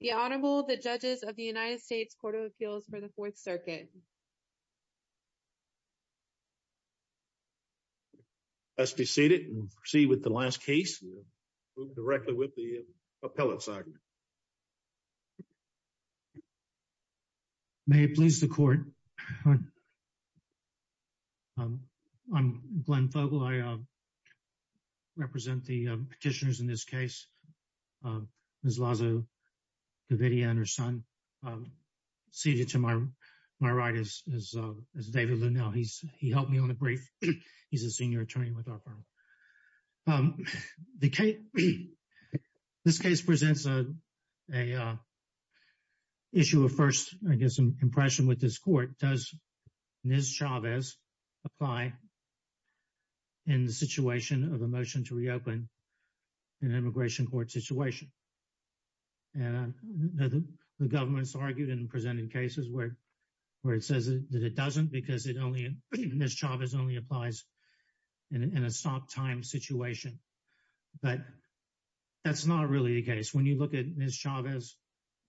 The Honorable, the Judges of the United States Court of Appeals for the Fourth Circuit. Let's be seated and proceed with the last case directly with the appellate side. May it please the Court. I'm Glenn Fogle. I represent the petitioners in this case. Ms. Lazo-Gavidia and her son seated to my right is David Lunell. He helped me on the brief. He's a senior attorney with our firm. This case presents an issue of first, I guess, impression with this court. Does Ms. Chavez apply in the situation of a motion to and I know the government's argued and presented cases where it says that it doesn't because it only Ms. Chavez only applies in a stop time situation. But that's not really the case. When you look at Ms. Chavez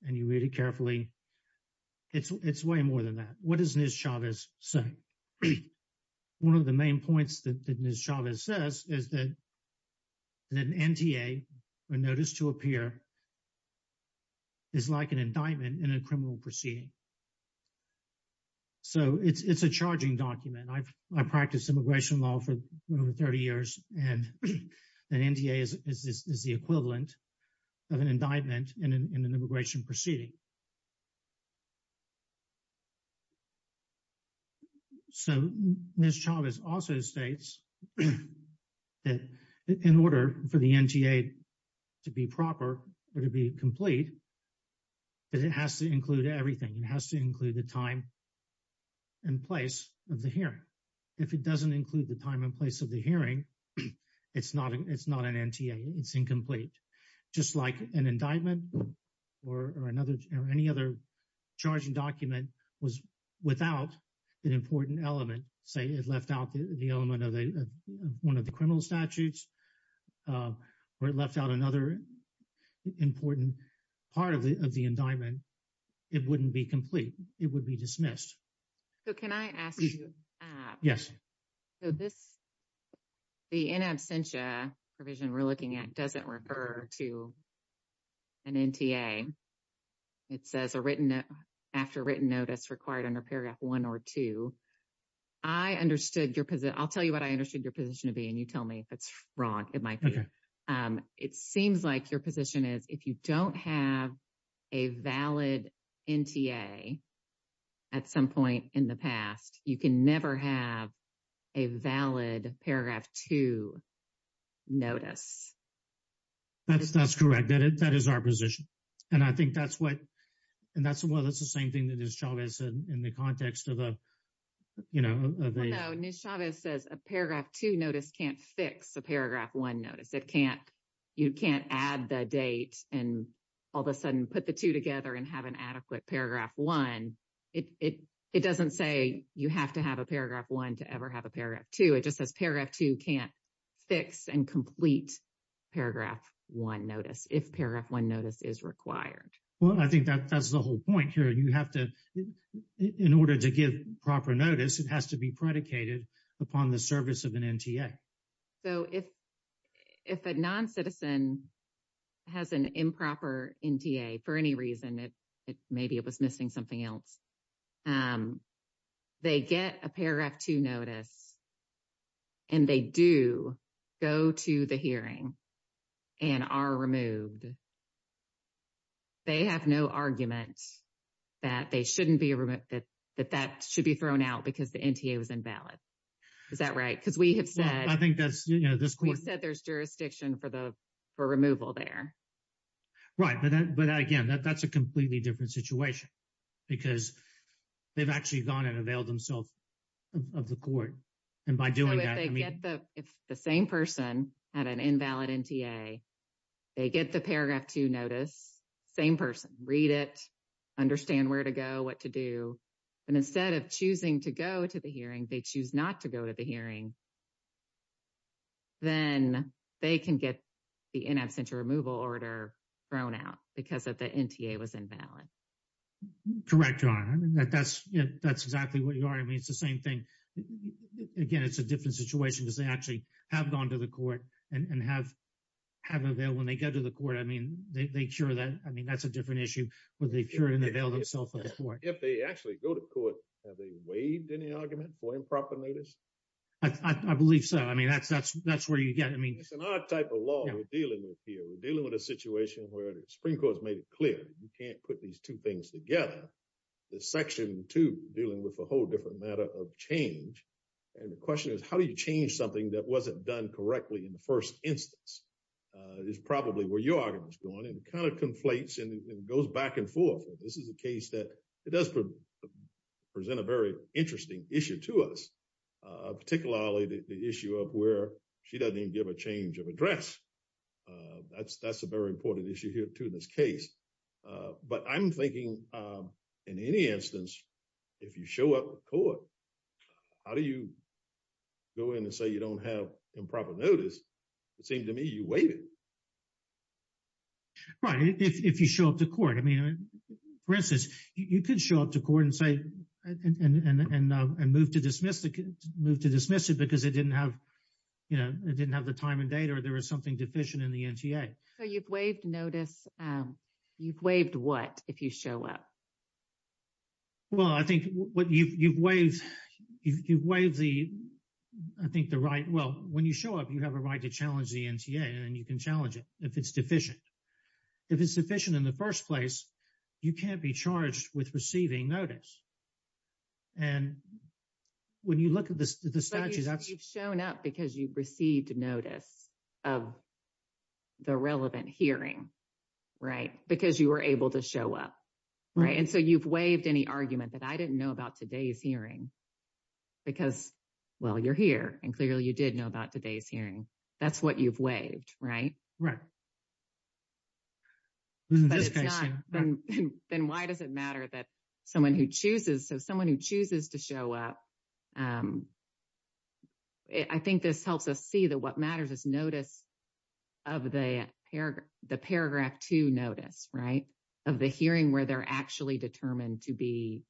and you read it carefully, it's way more than that. What does Ms. Chavez say? One of the main points that Ms. Chavez says is that an NTA were noticed to appear is like an indictment in a criminal proceeding. So it's a charging document. I've practiced immigration law for over 30 years and an NTA is the equivalent of an indictment in an immigration or to be complete, but it has to include everything. It has to include the time and place of the hearing. If it doesn't include the time and place of the hearing, it's not an NTA. It's incomplete. Just like an indictment or any other charging document was without an important element, say it left out the element of one of the criminal statutes or it left out another important part of the indictment, it wouldn't be complete. It would be dismissed. So can I ask you? Yes. So this, the in absentia provision we're looking at doesn't refer to an NTA. It says after written notice required under paragraph one or two. I understood your position. I'll tell you what I understood your position to be and you tell me if it's wrong. It seems like your position is if you don't have a valid NTA at some point in the past, you can never have a valid paragraph two notice. That's correct. That is our position. And I think that's what, and that's the same thing that Ms. Chavez said in the context of the, you know. Although Ms. Chavez says a paragraph two notice can't fix a paragraph one notice. It can't, you can't add the date and all of a sudden put the two together and have an adequate paragraph one. It doesn't say you have to have a paragraph one to ever have a paragraph two. It just says paragraph two can't fix and complete paragraph one notice if paragraph one notice is required. Well, I think that that's the whole point here. You have to, in order to give proper notice, it has to be predicated upon the service of an NTA. So, if a non-citizen has an improper NTA for any reason, maybe it was missing something else, they get a paragraph two notice and they do go to the hearing and are removed. They have no argument that they shouldn't be removed, that that should be thrown out because the NTA was invalid. Is that right? Because we have said. I think that's, you know, this court. We've said there's jurisdiction for the, for removal there. Right. But that, but again, that's a completely different situation because they've actually gone and availed themselves of the court. And by doing that, I mean. So, if they get the, if the same person had an invalid NTA, they get the paragraph two notice, same person, read it, understand where to go, what to do. And instead of choosing to go to the hearing, they choose not to go to the hearing. Then they can get the in absentia removal order thrown out because of the NTA was invalid. Correct, John. I mean, that's, that's exactly what you are. I mean, it's the same thing. Again, it's a different situation because they actually have gone to the court and have, have availed when they go to the court. I mean, they, they cure that. I mean, that's a different issue where they cure it and avail themselves of the court. If they actually go to court, have they waived any argument for improper notice? I believe so. I mean, that's, that's, that's where you get, I mean. It's an odd type of law we're dealing with here. We're dealing with a situation where the Supreme Court has made it clear. You can't put these two things together. The section two dealing with a whole different matter of change. And the question is, how do you change something that wasn't done correctly in the first instance? Is probably where your argument is going and it kind of conflates and goes back and forth. This is a case that it does present a very interesting issue to us. Particularly the issue of where she doesn't even give a change of address. That's, that's a very important issue here in this case. But I'm thinking in any instance, if you show up to court, how do you go in and say you don't have improper notice? It seemed to me you waived it. Right. If you show up to court, I mean, for instance, you could show up to court and say, and move to dismiss, move to dismiss it because it didn't have, you know, it didn't have the time and date or there was something deficient in the NTA. So you've waived notice. You've waived what if you show up? Well, I think what you've waived, you've waived the, I think the right. Well, when you show up, you have a right to challenge the NTA and you can challenge it if it's deficient. If it's deficient in the first place, you can't be charged with receiving notice. And when you look at the statute, that's. Shown up because you received notice of the relevant hearing. Right. Because you were able to show up. Right. And so you've waived any argument that I didn't know about today's hearing because, well, you're here and clearly you did know about today's hearing. That's what you've waived, right? Right. Then why does it matter that someone who chooses so someone who chooses to show up I think this helps us see that what matters is notice of the paragraph two notice, right? Of the hearing where they're actually determined to be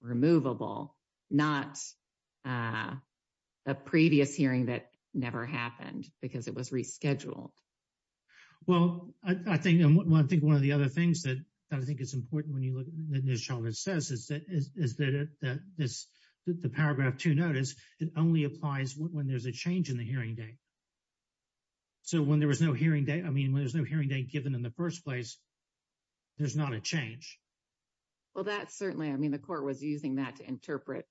removable, not a previous hearing that never happened because it was rescheduled. Well, I think one of the other things that I think is important when you look at this, is that the paragraph two notice, it only applies when there's a change in the hearing date. So when there was no hearing date, I mean, when there's no hearing date given in the first place, there's not a change. Well, that certainly, I mean, the court was using that to interpret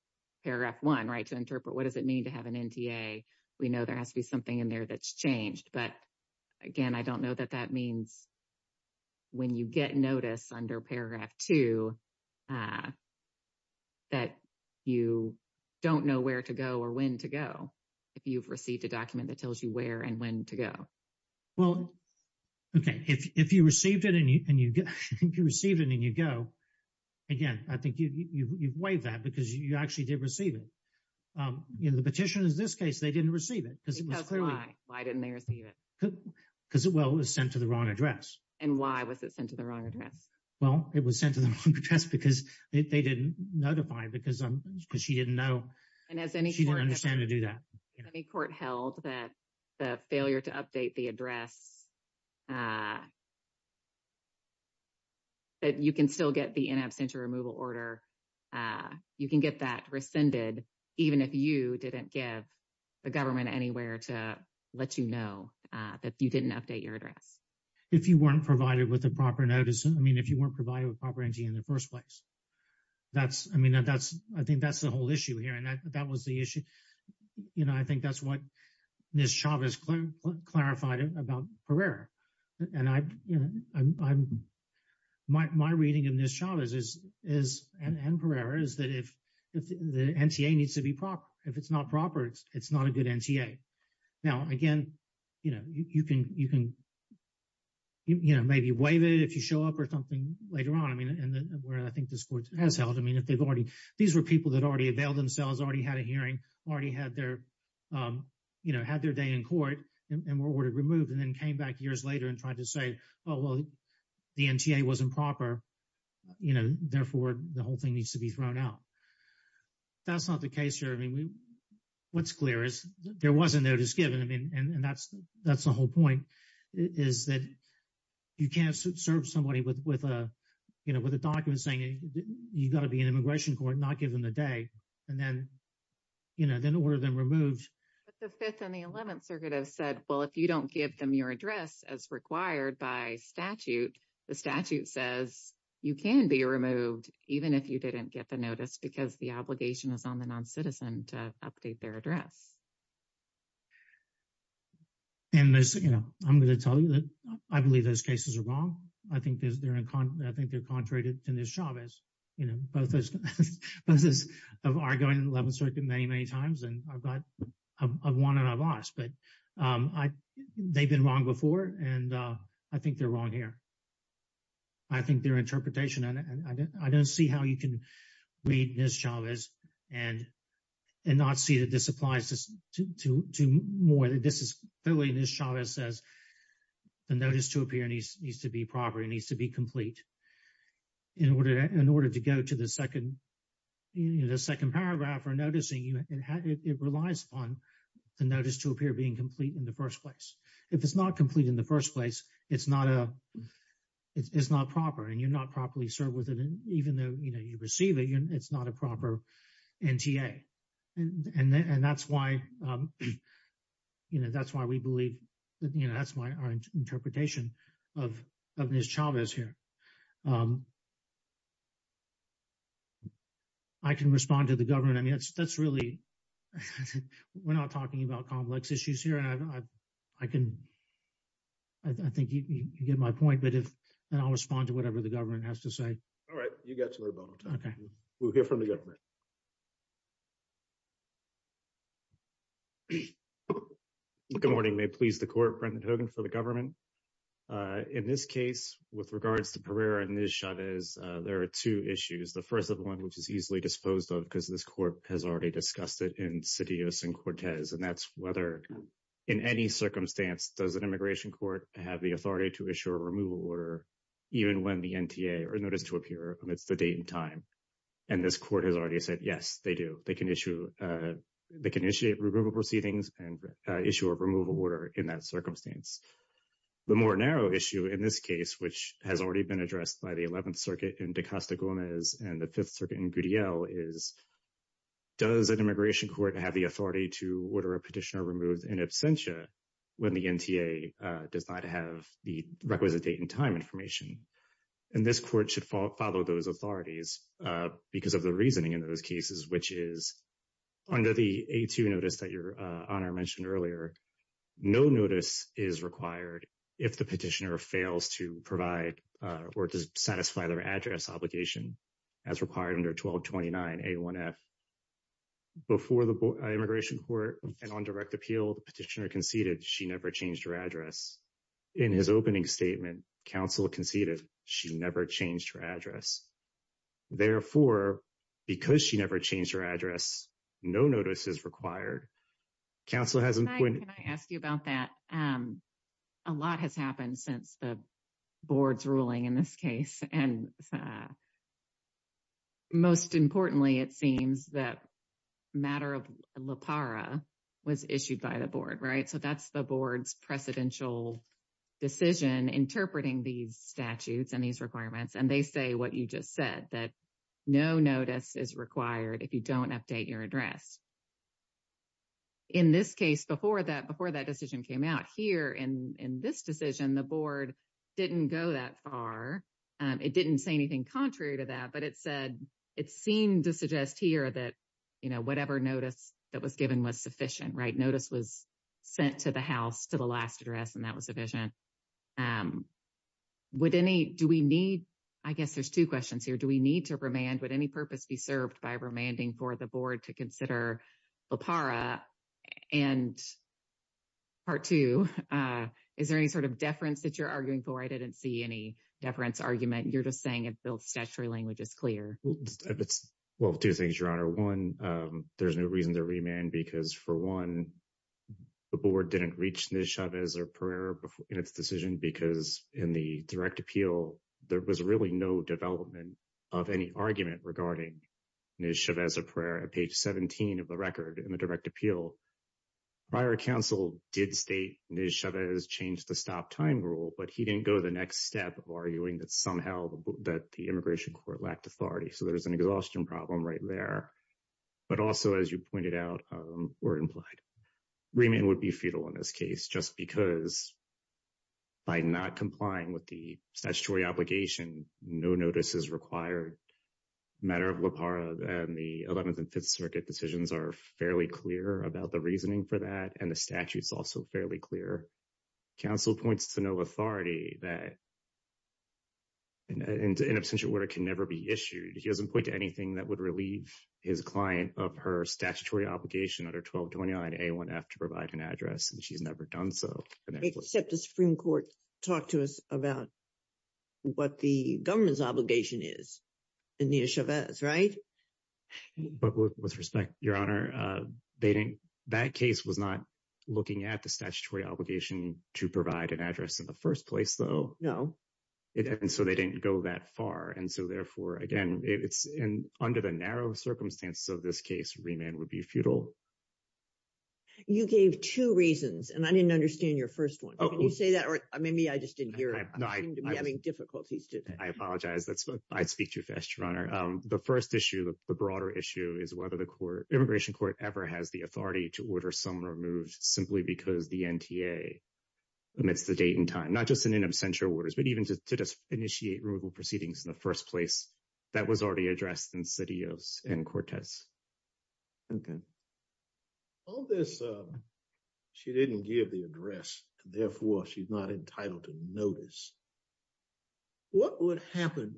paragraph one, right? To interpret what does it mean to have an NTA? We know there has to be something in there that's changed. But again, I don't know that that means when you get notice under paragraph two, that you don't know where to go or when to go, if you've received a document that tells you where and when to go. Well, okay, if you received it and you received it and you go, again, I think you've waived that because you actually did receive it. In the petition in this case, they didn't receive it. Because why? Why didn't they receive it? Because, well, it was sent to the wrong address. And why was it sent to the wrong address? Well, it was sent to the wrong address because they didn't notify because she didn't know. And as any court- She didn't understand to do that. Any court held that the failure to update the address, that you can still get the in absentia removal order, you can get that rescinded, even if you let you know that you didn't update your address. If you weren't provided with a proper notice. I mean, if you weren't provided with proper NTA in the first place. That's, I mean, I think that's the whole issue here. And that was the issue. You know, I think that's what Ms. Chavez clarified about Pereira. And my reading of Ms. Chavez and Pereira is that if the NTA needs to be proper, if it's not proper, it's not a good NTA. Now, again, you know, you can, you know, maybe waive it if you show up or something later on. I mean, where I think this court has held. I mean, if they've already- These were people that already availed themselves, already had a hearing, already had their, you know, had their day in court and were ordered removed and then came back years later and tried to say, oh, well, the NTA wasn't proper. You know, therefore, the whole thing needs to be thrown out. That's not the case here. I mean, there was a notice given. I mean, and that's the whole point is that you can't serve somebody with a, you know, with a document saying you've got to be in immigration court, not given the day. And then, you know, then order them removed. But the Fifth and the Eleventh Circuit have said, well, if you don't give them your address as required by statute, the statute says you can be removed even if you didn't get the notice because the obligation is on the noncitizen to update their address. And there's, you know, I'm going to tell you that I believe those cases are wrong. I think they're contrary to Ms. Chavez. You know, both of us have argued in the Eleventh Circuit many, many times, and I've won and I've lost. But they've been wrong before, and I think they're wrong here. I think their interpretation, and I don't see how you can read Ms. Chavez and not see that this applies to more than this. Clearly, Ms. Chavez says the notice to appear needs to be proper. It needs to be complete. In order to go to the second paragraph for noticing, it relies upon the notice to appear being complete in the first place. If it's not complete in the first place, it's not proper, and you're not properly served with it. And even though, you know, you receive it, it's not a proper NTA. And that's why, you know, that's why we believe, you know, that's why our interpretation of Ms. Chavez here. I can respond to the government. I mean, that's really, we're not talking about complex issues here. And I can, I think you get my point, but if, and I'll respond to whatever the government has to say. All right. You got your vote. Okay. We'll hear from the government. Good morning. May it please the court, Brendan Hogan for the government. In this case, with regards to Pereira and Ms. Chavez, there are two issues. The first of one, which is easily disposed of because this court has already discussed it in Citios and Cortez, and that's whether, in any circumstance, does an immigration court have the authority to issue a removal order, even when the NTA are noticed to appear amidst the date and time? And this court has already said, yes, they do. They can issue, they can initiate removal proceedings and issue a removal order in that circumstance. The more narrow issue in this case, which has already been addressed by the 11th Circuit in De Costa Gomez and the 5th Circuit in Gudiel is, does immigration court have the authority to order a petitioner removed in absentia when the NTA does not have the requisite date and time information? And this court should follow those authorities because of the reasoning in those cases, which is under the A2 notice that Your Honor mentioned earlier, no notice is required if the petitioner fails to provide or to satisfy their address obligation as required under 1229A1F. Before the immigration court and on direct appeal, the petitioner conceded she never changed her address. In his opening statement, counsel conceded she never changed her address. Therefore, because she never changed her address, no notice is required. Counsel has asked you about that. A lot has happened since the board's ruling in this case. And most importantly, it seems that matter of LAPARA was issued by the board, right? So that's the board's precedential decision interpreting these statutes and these requirements. And they say what you just said, that no notice is required if you don't update your address. In this case, before that decision came out here in this decision, the board didn't go that far. It didn't say anything contrary to that, but it said it seemed to suggest here that whatever notice that was given was sufficient, right? Notice was sent to the house to the last address and that was sufficient. I guess there's two questions here. Do we need to remand? Would any purpose be served by remanding for the board to consider LAPARA? And part two, is there any sort of deference that you're arguing for? I didn't see any deference argument. You're just saying it builds statutory language is clear. Well, two things, Your Honor. One, there's no reason to remand because for one, the board didn't reach Nischavez or Pereira in its decision because in the direct appeal, there was really no development of any argument regarding Nischavez or Pereira. Page 17 of the record in the direct appeal, prior counsel did state Nischavez changed the stop time rule, but he didn't go the next step of arguing that somehow that the immigration court lacked authority. So there's an exhaustion problem right there. But also, as you pointed out or implied, remand would be futile in this case just because by not complying with the statutory obligation, no notice is required. Matter of LAPARA and the 11th and 5th Circuit decisions are fairly clear about the reasoning for that and the statute's also fairly clear. Counsel points to no authority that in absentia order can never be issued. He doesn't point to anything that would relieve his client of her statutory obligation under 1229 A1F to provide an address and she's never done so. Except the Supreme Court talked to us about what the government's obligation is in Nischavez, right? But with respect, Your Honor, that case was not looking at the statutory obligation to provide an address in the first place, though. No. And so they didn't go that far. And so therefore, again, it's under the narrow circumstances of this case, remand would be futile. You gave two reasons and I didn't seem to be having difficulties today. I apologize. I speak too fast, Your Honor. The first issue, the broader issue, is whether the immigration court ever has the authority to order someone removed simply because the NTA amidst the date and time, not just in absentia orders, but even to just initiate removal proceedings in the first place. That was already addressed in Cideos and Cortez. Okay. All this, she didn't give the address. Therefore, she's not entitled to notice. What would happen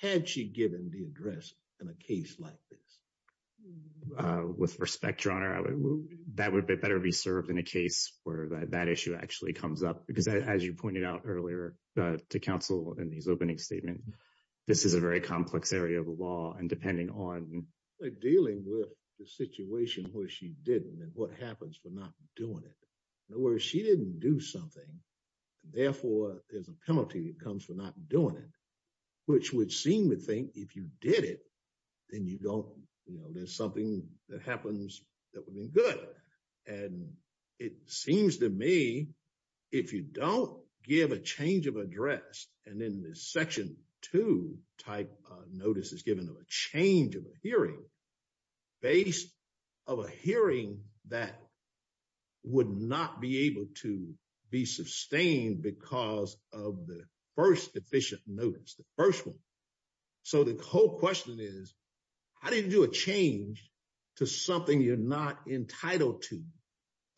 had she given the address in a case like this? With respect, Your Honor, that would better be served in a case where that issue actually comes up. Because as you pointed out earlier to counsel in these opening statements, this is a very complex area of law. And depending on... Dealing with the situation where she didn't and what happens for not doing it. In other words, she didn't do something. Therefore, there's a penalty that comes for not doing it, which would seem to think if you did it, then you don't... There's something that happens that would have been good. And it seems to me, if you don't give a change of address, and then this section two type notice is given of a change of hearing based of a hearing that would not be able to be sustained because of the first efficient notice, the first one. So the whole question is, how do you do a change to something you're not entitled to,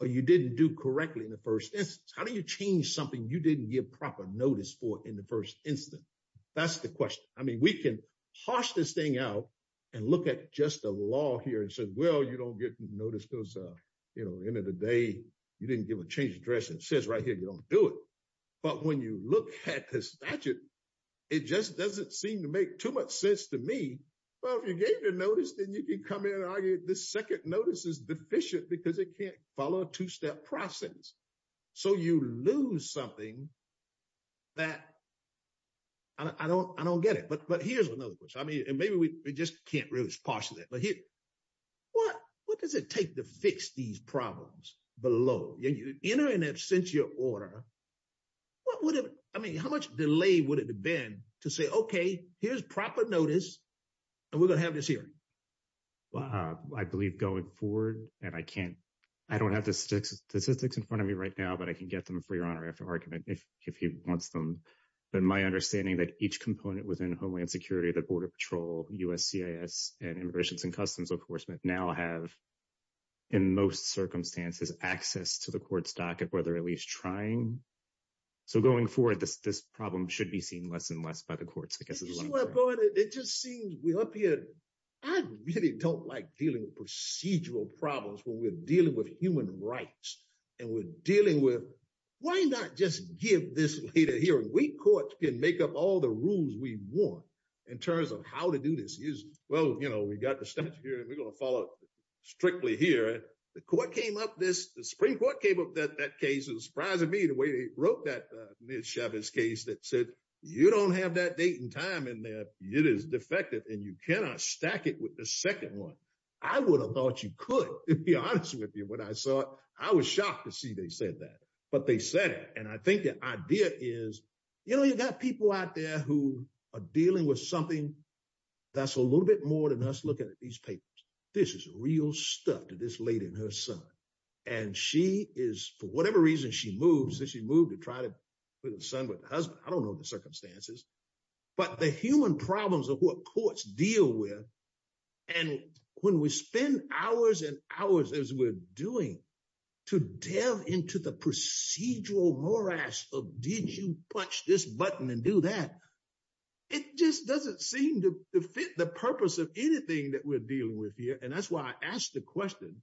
or you didn't do correctly in the first instance? How do you change something you didn't give proper notice for in the first instance? That's the question. I mean, we can harsh this thing out and look at just the law here and said, well, you don't get notice those end of the day, you didn't give a change of address. It says right here, you don't do it. But when you look at the statute, it just doesn't seem to make too much sense to me. Well, if you gave the notice, then you can come in and argue the second notice is deficient because it can't follow a two-step process. So you lose something that... I don't get it. But here's another question. I mean, maybe we just can't really parse it. But what does it take to fix these problems below? In an absentia order, what would have... I mean, how much delay would it have been to say, okay, here's proper notice, and we're going to have this hearing? Well, I believe going forward, and I don't have the statistics in front of me right now, but I can get them for your honor after argument if he wants them. But my understanding that each security, the Border Patrol, USCIS, and Immigrations and Customs Enforcement now have, in most circumstances, access to the court's docket, whether at least trying. So going forward, this problem should be seen less and less by the courts, I guess. It just seems we're up here. I really don't like dealing with procedural problems when we're dealing with human rights. And we're dealing with, why not just give this later hearing? We courts can make up all the rules we want in terms of how to do this. Well, we've got the statute here, and we're going to follow it strictly here. The Supreme Court came up with that case. It was surprising to me the way they wrote that Ms. Chavez case that said, you don't have that date and time in there. It is defective, and you cannot stack it with the second one. I would have thought you could, to be honest with you, when I saw it. I was shocked to see they said that, but they said it. And I think the idea is, you know, you've got people out there who are dealing with something that's a little bit more than us looking at these papers. This is real stuff to this lady and her son. And she is, for whatever reason, she moved. She moved to try to put her son with her husband. I don't know the circumstances. But the human problems of what courts deal with, and when we spend hours and hours as we're doing to delve into the procedural morass of did you punch this button and do that, it just doesn't seem to fit the purpose of anything that we're dealing with here. And that's why I asked the question,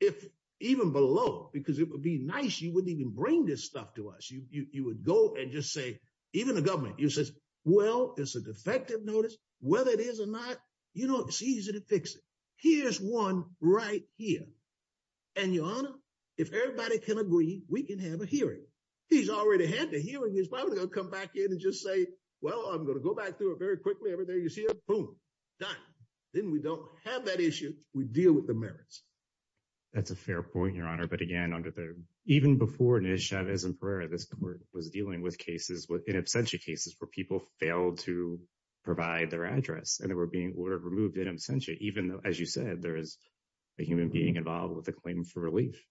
if even below, because it would be nice, you wouldn't even bring this stuff to us. You would go and just say, even the government, you say, well, it's a defective notice. Whether it is or not, you know, it's easy to fix it. Here's one right here. And your honor, if everybody can agree, we can have a hearing. He's already had the hearing. He's probably going to come back in and just say, well, I'm going to go back through it very quickly. Every day you see it, boom, done. Then we don't have that issue. We deal with the merits. That's a fair point, your honor. But again, even before Chavez and Pereira, this court was dealing with cases, in absentia cases, where people failed to provide their address and they were removed in absentia, even though, as you said, there is a human being involved with the claim for relief.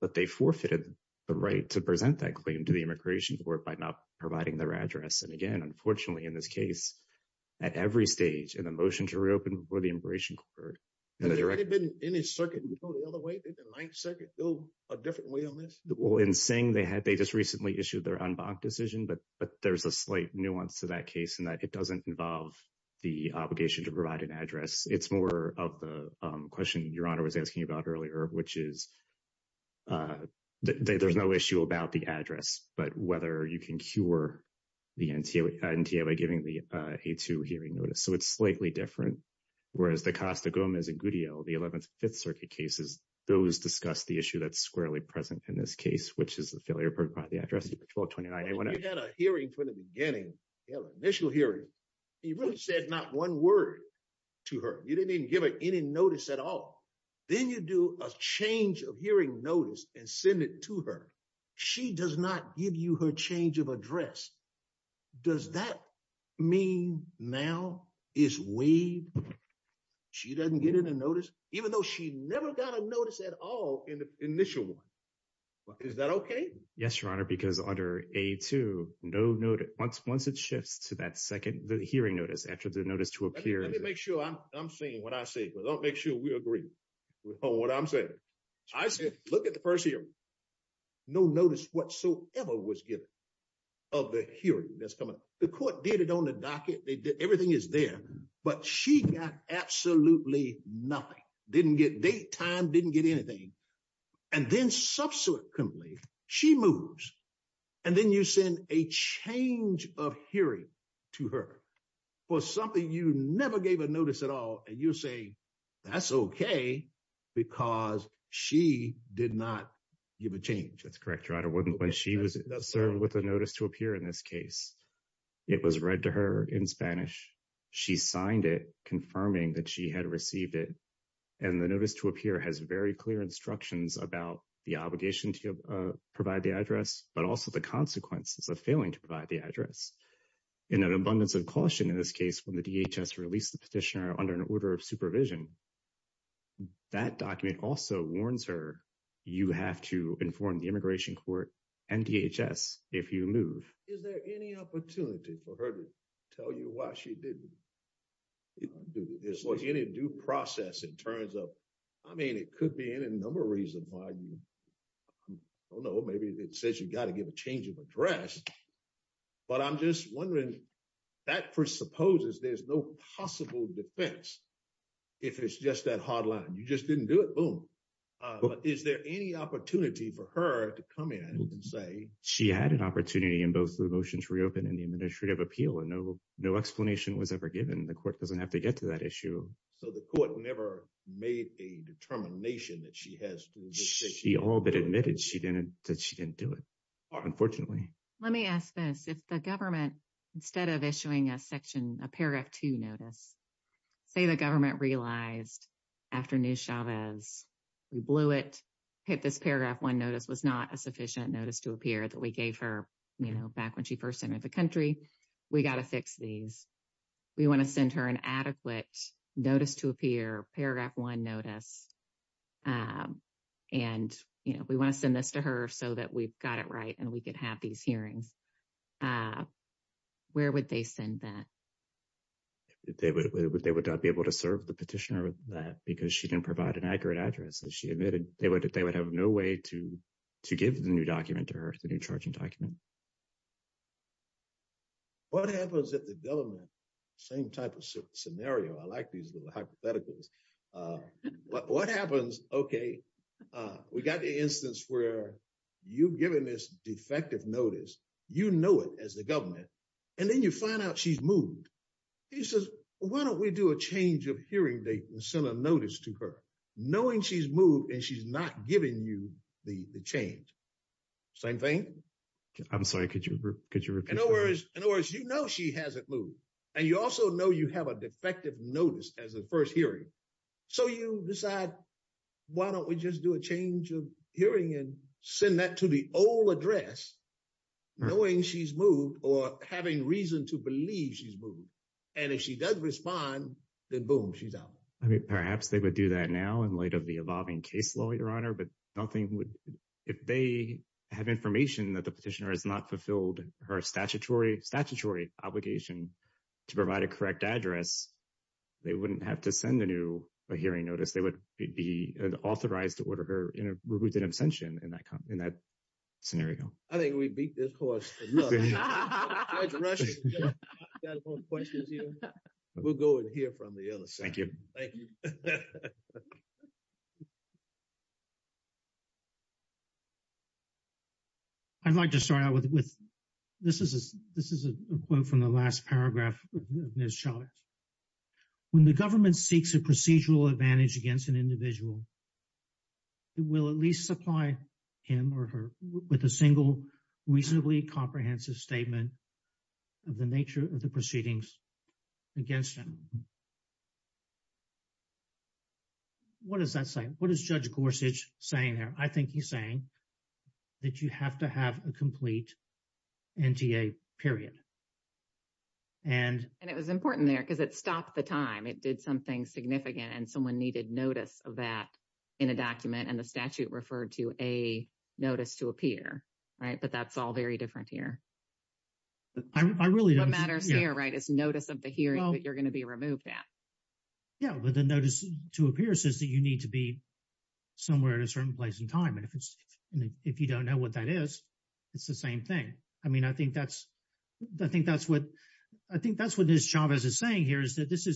But they forfeited the right to present that claim to the immigration court by not providing their address. And again, unfortunately, in this case, at every stage, in the motion to reopen before the immigration court. Has there been any circuit, you know, the other way, did the Ninth Circuit go a different way on that? Well, in saying they had, they just recently issued their en banc decision, but there's a slight nuance to that case in that it doesn't involve the obligation to provide an address. It's more of the question your honor was asking about earlier, which is there's no issue about the address, but whether you can cure the NTA by giving the A2 hearing notice. So it's slightly different. Whereas the Costa Gomez and Gudiel, the Eleventh and Fifth cases, which is the failure to provide the address for 1229A1F. You had a hearing from the beginning, initial hearing. You really said not one word to her. You didn't even give her any notice at all. Then you do a change of hearing notice and send it to her. She does not give you her change of address. Does that mean now is waived? She doesn't get a notice, even though she never got a notice at all in the initial one. Is that okay? Yes, your honor. Because under A2, once it shifts to that second, the hearing notice after the notice to appear. Let me make sure I'm saying what I say, but don't make sure we agree on what I'm saying. I said, look at the first hearing. No notice whatsoever was given of the hearing that's coming. The court did it on the docket. They did, everything is there, but she got absolutely nothing. Didn't get date, time, didn't get anything. And then subsequently, she moves. And then you send a change of hearing to her for something you never gave a notice at all. And you'll say, that's okay, because she did not give a change. That's correct, your honor. When she was served with a notice to appear in this case, it was read to her in Spanish. She signed it confirming that she had received it. And the notice to appear has very clear instructions about the obligation to provide the address, but also the consequences of failing to provide the address. In an abundance of caution in this case, when the DHS released the petitioner under an order of supervision, that document also warns her, you have to inform the immigration court and DHS if you move. Is there any opportunity for her to tell you why she didn't do this? Was any due process in terms of, I mean, it could be in a number of reasons why you, I don't know, maybe it says you got to give a change of address, but I'm just wondering, that presupposes there's no possible defense if it's just that hard line. You just didn't do it, boom. But is there any opportunity for her to come in and say- She had an opportunity in both the motions reopened in the administrative appeal and no explanation was ever given. The court doesn't have to get to that issue. So the court never made a determination that she has to- She all but admitted that she didn't do it, unfortunately. Let me ask this. If the government, instead of issuing a paragraph two notice, say the government realized after New Chavez, we blew it, hit this paragraph one notice was not a sufficient notice to appear that we gave her back when she first entered the country, we got to fix these. We want to send her an adequate notice to appear, paragraph one notice, and we want to send this to her so that we've got it right and we could have these hearings. Where would they send that? They would not be able to serve the petitioner with that because she didn't provide an accurate address. She admitted they would have no way to give the new document to her, the new charging document. What happens if the government, same type of scenario, I like these little hypotheticals. What happens, okay, we got the instance where you've given this defective notice, you know it as the government, and then you find out she's moved. He says, why don't we do a change of hearing date and send a notice to her, knowing she's moved and she's not giving you the change? Same thing? I'm sorry, could you repeat that? In other words, you know she hasn't moved, and you also know you have a defective notice as the first hearing. So you decide, why don't we just do a change of hearing and send that to the old address, knowing she's moved or having reason to believe she's moved? And if she does respond, then boom, she's out. I mean, perhaps they would do that now in light of the evolving case law, Your Honor, but nothing would, if they have information that the petitioner has not fulfilled her statutory obligation to provide a correct address, they wouldn't have to send a new hearing notice. They would be authorized to order her in a removed in absentia in that scenario. I think we beat this course. Judge Rush, you got a couple of questions here? We'll go and hear from the other side. Thank you. Thank you. I'd like to start out with, this is a quote from the last paragraph of Ms. Chavez. When the government seeks a procedural advantage against an individual, it will at least supply him or her with a single reasonably comprehensive statement of the nature of the proceedings against him. What does that say? What is Judge Gorsuch saying there? I think he's saying that you have to have a complete NTA, period. And... And it was important there because it stopped the time. It did something significant and someone needed notice of that in a document and the statute referred to a notice to appear, right? But that's all very different here. I really don't... What matters here, right, is notice of the hearing that you're going to be removed at. Yeah, but the notice to appear says that you need to be somewhere at a certain place in time. And if you don't know what that is, it's the same thing. I mean, I think that's what Ms. Chavez is saying here is that this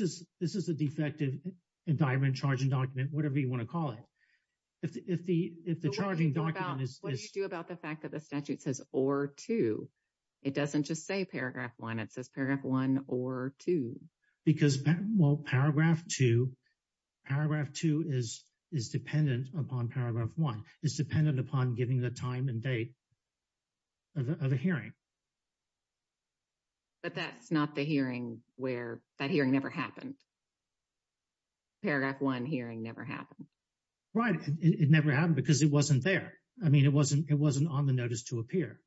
is a defective indictment, charging document, whatever you want to call it. If the charging document is... About the fact that the statute says or two, it doesn't just say paragraph one, it says paragraph one or two. Because, well, paragraph two, paragraph two is dependent upon paragraph one, is dependent upon giving the time and date of the hearing. But that's not the hearing where that hearing never happened. Paragraph one hearing never happened. Right. It never happened because it wasn't there. I mean, it wasn't on the notice to appear.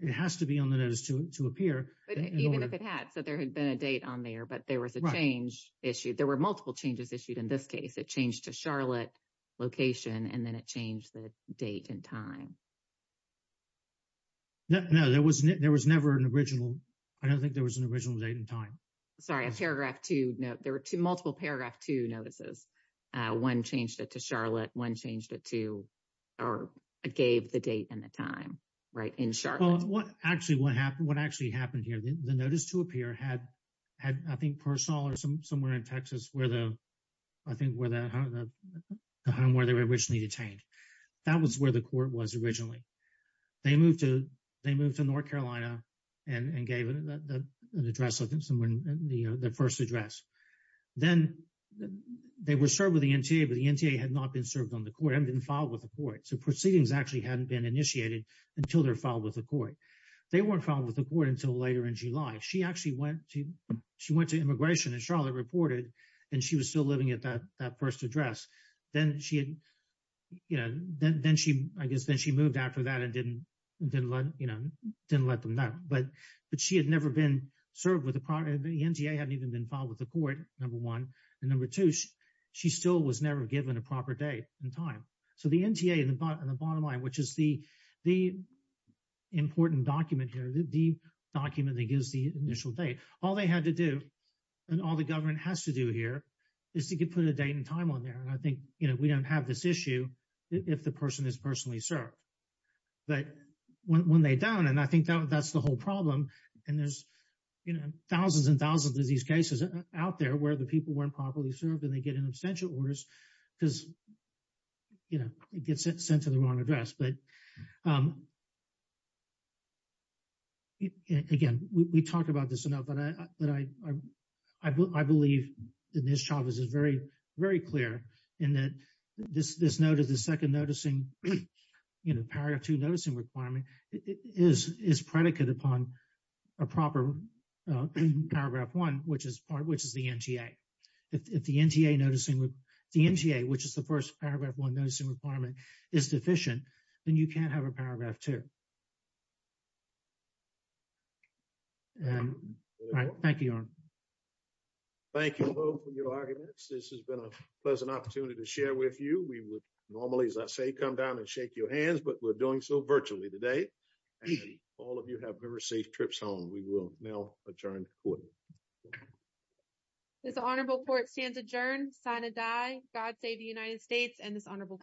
It has to be on the notice to appear. But even if it had, so there had been a date on there, but there was a change issued. There were multiple changes issued in this case. It changed to Charlotte location and then it changed the date and time. No, there was never an original. I don't think there was an original date and time. Sorry, a paragraph two. No, there were two multiple paragraph two notices. One changed it to Charlotte, one changed it to, or gave the date and the time, right? In Charlotte. Well, what actually happened here, the notice to appear had, I think, personal or somewhere in Texas where the, I think, where the home where they were originally detained. That was where the court was originally. They moved to North Carolina and gave an address, the first address. Then they were served with the NTA, but the NTA had not been served on the court, hadn't been filed with the court. So proceedings actually hadn't been initiated until they're filed with the court. They weren't filed with the court until later in July. She actually went to immigration, as Charlotte reported, and she was still living at that first address. Then she had, I guess, then she moved after that and didn't let them know. But she had never been the NTA hadn't even been filed with the court, number one. And number two, she still was never given a proper date and time. So the NTA and the bottom line, which is the important document here, the document that gives the initial date, all they had to do and all the government has to do here is to put a date and time on there. And I think we don't have this issue if the person is personally served. But when they don't, and I think that's the whole problem, and there's thousands and thousands of these cases out there where the people weren't properly served and they get in abstention orders because it gets sent to the wrong address. But again, we talked about this enough, but I believe that Ms. Chavez is very, very clear in that this note of the second noticing, paragraph two noticing requirement is predicate upon a proper paragraph one, which is the NTA. If the NTA noticing, the NTA, which is the first paragraph one noticing requirement is deficient, then you can't have a paragraph two. All right. Thank you, Your Honor. Thank you both for your arguments. This has been a pleasant opportunity to share with you. We would all of you have very safe trips home. We will now adjourn court. This honorable court stands adjourned. Sign a die. God save the United States and this honorable court.